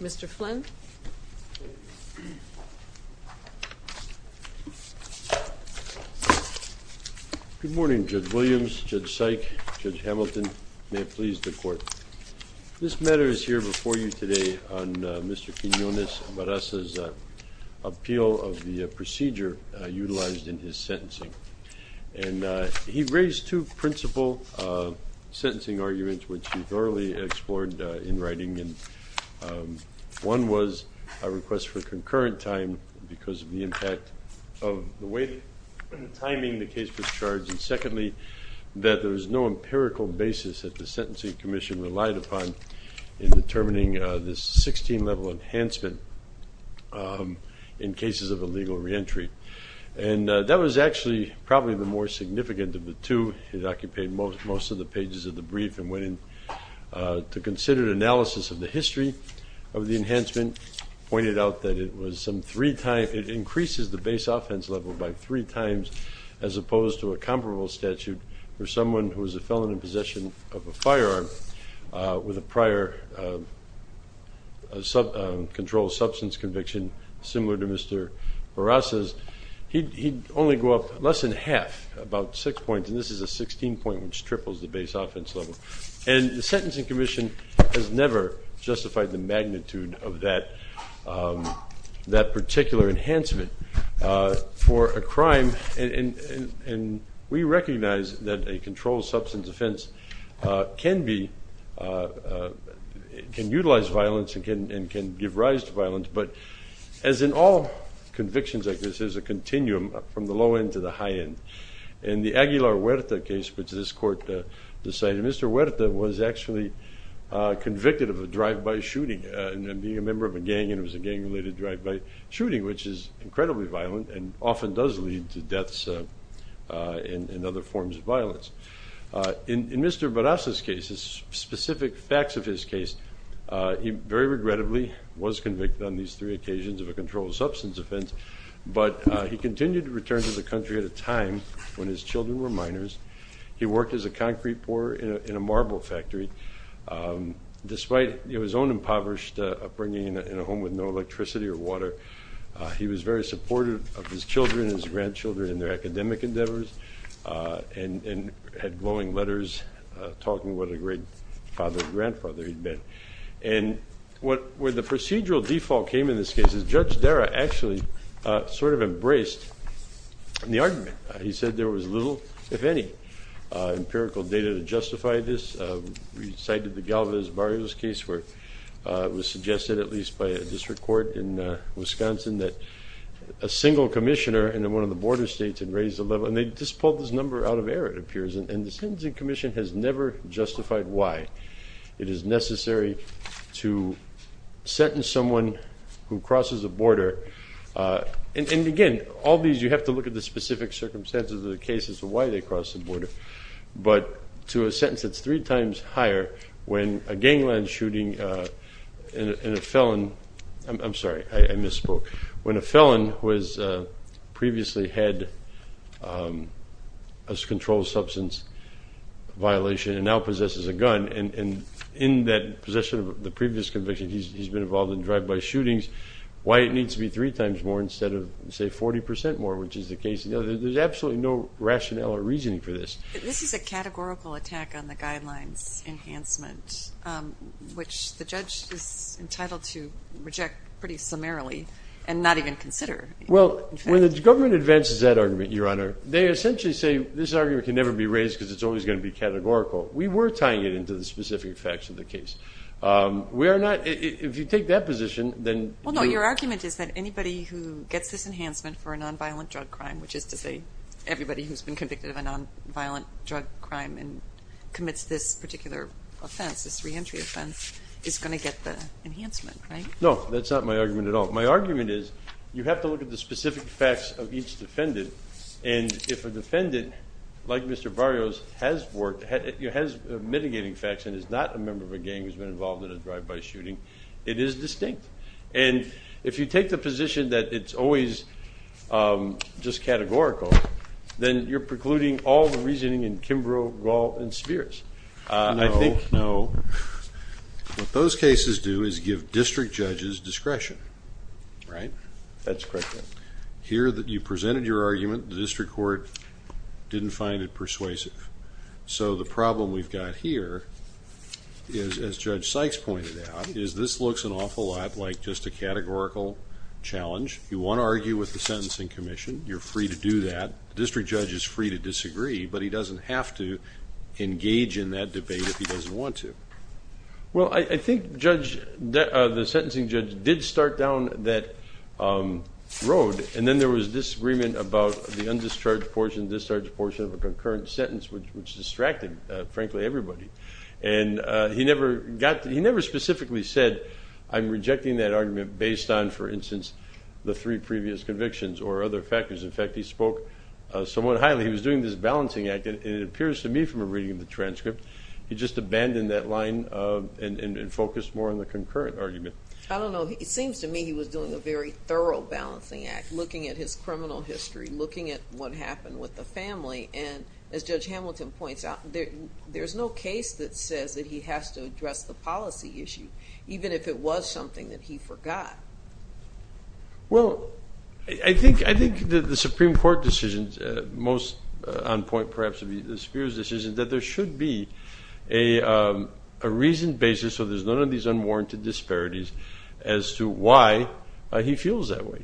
Mr. Flynn Good morning Judge Williams, Judge Syke, Judge Hamilton, may it please the court. This matter is here before you today on Mr. Quinonez-Barraza's appeal of the procedure utilized in his sentencing and he raised two principal sentencing arguments which he thoroughly explored in writing and one was a request for concurrent time because of the impact of the way the timing the case was charged and secondly that there was no empirical basis that the Sentencing Commission relied upon in determining this 16 level enhancement in cases of illegal reentry and that was actually probably the more significant of the two. It occupied most of the pages of the brief and went in to consider analysis of the history of the enhancement, pointed out that it was some three times, it increases the base statute for someone who is a felon in possession of a firearm with a prior controlled substance conviction similar to Mr. Barraza's, he'd only go up less than half, about six points and this is a 16 point which triples the base offense level and the Sentencing Commission has never justified the magnitude of that particular enhancement for a crime and we recognize that a controlled substance offense can be, can utilize violence and can give rise to violence but as in all convictions like this there's a continuum from the low end to the high end. In the Aguilar Huerta case which this court decided, Mr. Huerta was actually convicted of a drive-by shooting and being a member of a gang and it was a gang-related drive-by shooting which is incredibly violent and often does lead to deaths and other forms of violence. In Mr. Barraza's case, specific facts of his case, he very regrettably was convicted on these three occasions of a controlled substance offense but he continued to return to the country at a time when his children were minors, he worked as a concrete pourer in a marble factory despite his own impoverished upbringing in a home with no electricity or water. He was very supportive of his children and his grandchildren in their academic endeavors and had glowing letters talking about what a great father-grandfather he'd been. And where the procedural default came in this case is Judge Dara actually sort of embraced the argument. He said there was little, if any, empirical data to justify this. We cited the Galvez-Barrios case where it was suggested at least by a district court in Wisconsin that a single commissioner in one of the border states had raised the level, and they just pulled this number out of air it appears, and the Sentencing Commission has never justified why it is necessary to sentence someone who crosses a border. And again, all these, you have to look at the specific circumstances of the case as to why they crossed the border. But to a sentence that's three times higher when a gangland shooting and a felon, I'm sorry I misspoke, when a felon who has previously had a controlled substance violation and now possesses a gun and in that possession of the previous conviction, he's been involved in drive-by shootings, why it needs to be three times more instead of say 40% more which is the case, you know, there's absolutely no rationale or reasoning for this. This is a categorical attack on the guidelines enhancement, which the judge is entitled to reject pretty summarily and not even consider. Well, when the government advances that argument, Your Honor, they essentially say this argument can never be raised because it's always going to be categorical. We were tying it into the specific facts of the case. We are not, if you take that position, then well no, your argument is that anybody who gets this enhancement for a non-violent drug crime, which is to say everybody who's been convicted of a non-violent drug crime and commits this particular offense, this re-entry offense, is going to get the enhancement, right? No, that's not my argument at all. My argument is you have to look at the specific facts of each defendant and if a defendant, like Mr. Barrios, has mitigating facts and is not a member of a gang who's been involved in a drive-by shooting, it is distinct. And if you take the position that it's always just categorical, then you're precluding all the reasoning in Kimbrough, Gall, and Spears. No, what those cases do is give district judges discretion, right? That's correct, Your Honor. Here that you presented your argument, the district court didn't find it persuasive. So the problem we've got here is, as Judge Sykes pointed out, is this looks an awful lot like just a categorical challenge. You want to argue with the Sentencing Commission, you're free to do that. The district judge is free to disagree, but he doesn't have to engage in that debate if he doesn't want to. Well, I think the sentencing judge did start down that road and then there was disagreement about the undischarged portion, discharged portion of a concurrent sentence, which distracted, frankly, everybody. And he never specifically said, I'm rejecting that argument based on, for instance, the three previous convictions or other factors. In fact, he spoke somewhat highly. He was doing this balancing act, and it appears to me from a reading of the transcript, he just abandoned that line and focused more on the concurrent argument. I don't know, it seems to me he was doing a very thorough balancing act, looking at his criminal history, looking at what happened with the family. And as Judge I think the Supreme Court decision, most on point, perhaps, would be the Spears decision, that there should be a reasoned basis, so there's none of these unwarranted disparities, as to why he feels that way.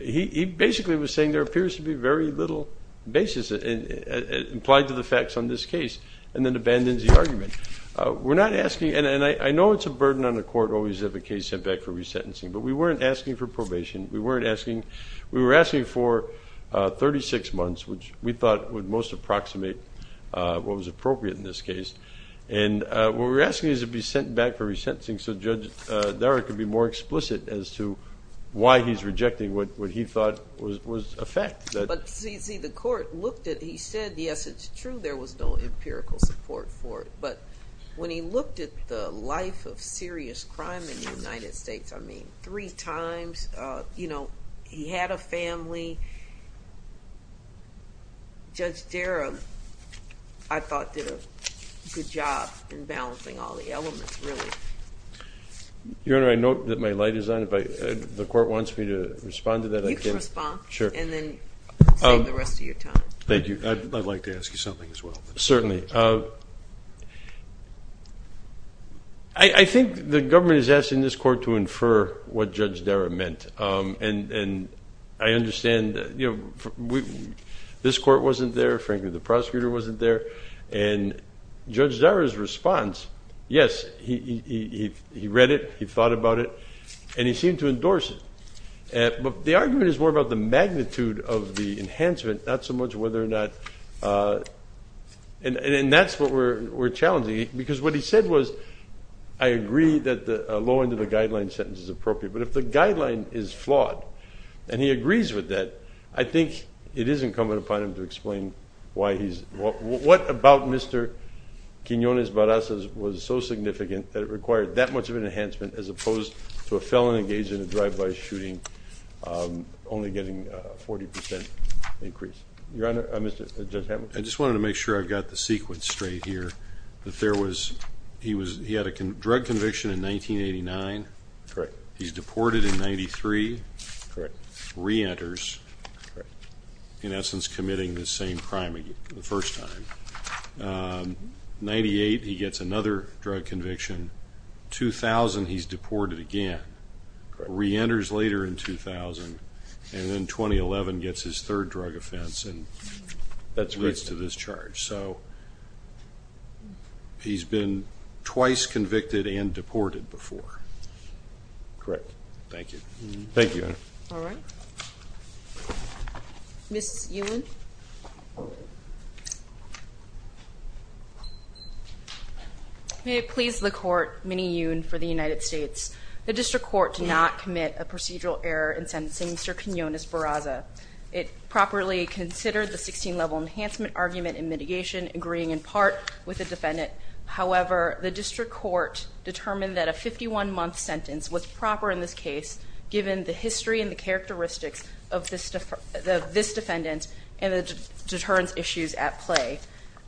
He basically was saying there appears to be very little basis implied to the facts on this argument. We're not asking, and I know it's a burden on the court always to have a case sent back for resentencing, but we weren't asking for probation. We weren't asking, we were asking for 36 months, which we thought would most approximate what was appropriate in this case. And what we're asking is to be sent back for resentencing, so Judge Darragh could be more explicit as to why he's rejecting what he thought was a fact. But see, the court looked at, he said, yes it's true, there was no empirical support for it. But when he looked at the life of serious crime in the United States, I mean, three times, you know, he had a family. Judge Darragh, I thought, did a good job in balancing all the elements, really. Your Honor, I note that my light is on, but the court wants me to respond to that. You can respond, and then save the rest of your time. Thank you, I'd like to ask you something as well. Certainly. I think the government is asking this court to infer what Judge Darragh meant, and I understand, you know, this court wasn't there, frankly the prosecutor wasn't there, and Judge Darragh's response, yes, he read it, he read it as more about the magnitude of the enhancement, not so much whether or not, and that's what we're challenging, because what he said was, I agree that the low end of the guideline sentence is appropriate, but if the guideline is flawed, and he agrees with that, I think it isn't incumbent upon him to explain why he's, what about Mr. Quinones Barras was so significant that it required that much of an enhancement as opposed to a felon engaged in a only getting a 40% increase. Your Honor, I just wanted to make sure I've got the sequence straight here, that there was, he was, he had a drug conviction in 1989, correct, he's deported in 93, correct, re-enters, in essence committing the same crime again, the first time, 98 he gets another drug conviction, 2000 he's convicted again, 2000, and then 2011 gets his third drug offense, and that's roots to this charge, so he's been twice convicted and deported before, correct. Thank you. Thank you, Your Honor. All right. Ms. Ewen. May it please the Court, Minnie Ewen for the United States, the District Court to not commit a procedural error in sentencing Mr. Quinones Barras. It properly considered the 16-level enhancement argument in mitigation, agreeing in part with the defendant. However, the District Court determined that a 51-month sentence was proper in this case, given the history and the characteristics of this defendant and the deterrence issues at play,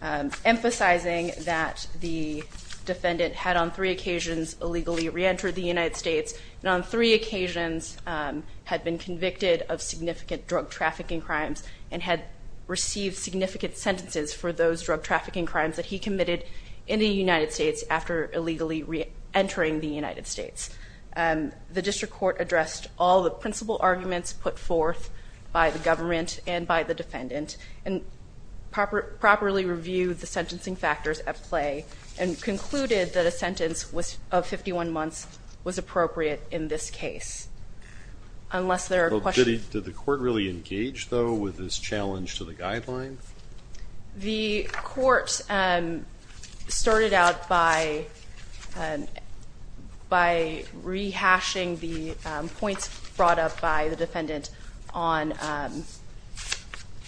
emphasizing that the defendant had on three occasions illegally re-entered the United States, on three occasions had been convicted of significant drug trafficking crimes, and had received significant sentences for those drug trafficking crimes that he committed in the United States after illegally re-entering the United States. The District Court addressed all the principal arguments put forth by the government and by the defendant, and properly reviewed the sentencing factors at play, and concluded that a Did the court really engage, though, with this challenge to the guidelines? The court started out by rehashing the points brought up by the defendant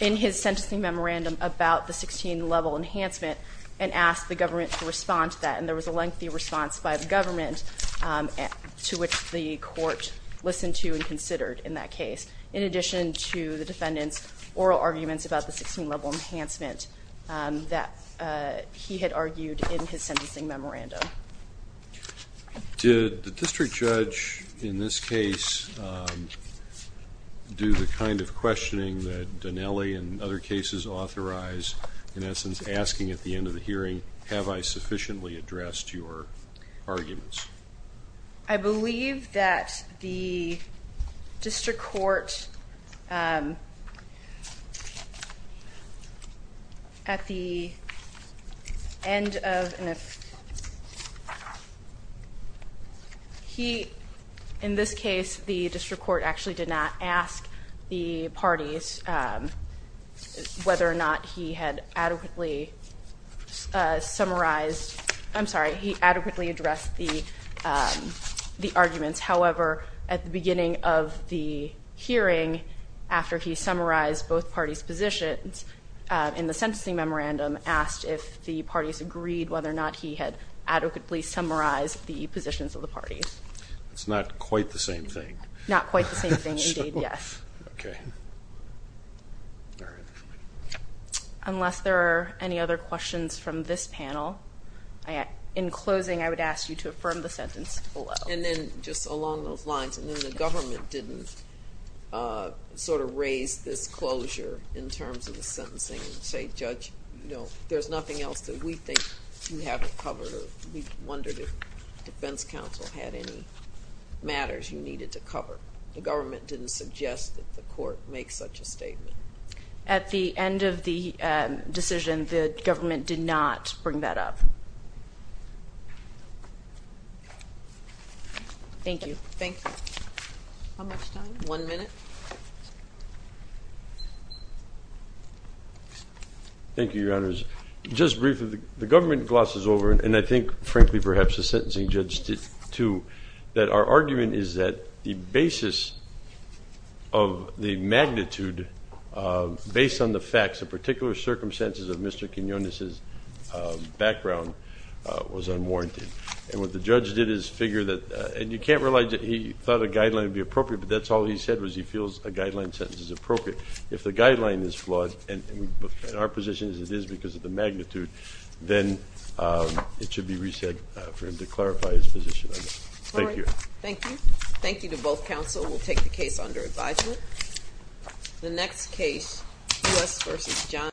in his sentencing memorandum about the 16-level enhancement, and asked the government to respond to that. And there was a lengthy response by the government to which the court listened to and considered in that case, in addition to the defendant's oral arguments about the 16-level enhancement that he had argued in his sentencing memorandum. Did the district judge, in this case, do the kind of questioning that Dinelli and other cases authorized, in essence, asking at the end of the hearing, have I sufficiently addressed your arguments? I believe that the district court, at the end of, he, in this case, the district court actually did not ask the parties whether or not he had adequately summarized, I'm sorry, he adequately addressed the arguments. However, at the beginning of the hearing, after he summarized both parties' positions in the sentencing memorandum, asked if the parties agreed whether or not he had adequately summarized the positions of the parties. It's not quite the same thing. Not quite the same thing, indeed, yes. Okay. Unless there are any other questions from this panel, in closing, I would ask you to affirm the sentence below. And then just along those lines, and then the government didn't sort of raise this closure in terms of the sentencing, and say, Judge, you know, there's nothing else that we think you haven't covered, or we wondered if Defense you needed to cover. The government didn't suggest that the court make such a statement. At the end of the decision, the government did not bring that up. Thank you. Thank you. How much time? One minute. Thank you, Your Honors. Just briefly, the government glosses over, and I think, frankly, perhaps the sentencing judge did that the basis of the magnitude, based on the facts, the particular circumstances of Mr. Quinones's background was unwarranted. And what the judge did is figure that, and you can't realize that he thought a guideline would be appropriate, but that's all he said was he feels a guideline sentence is appropriate. If the guideline is flawed, and in our positions it is because of the magnitude, then it should be reset for him to clarify his position. Thank you. Thank you. Thank you to both counsel. We'll take the case under advisement. The next case, U.S. v. Johnson.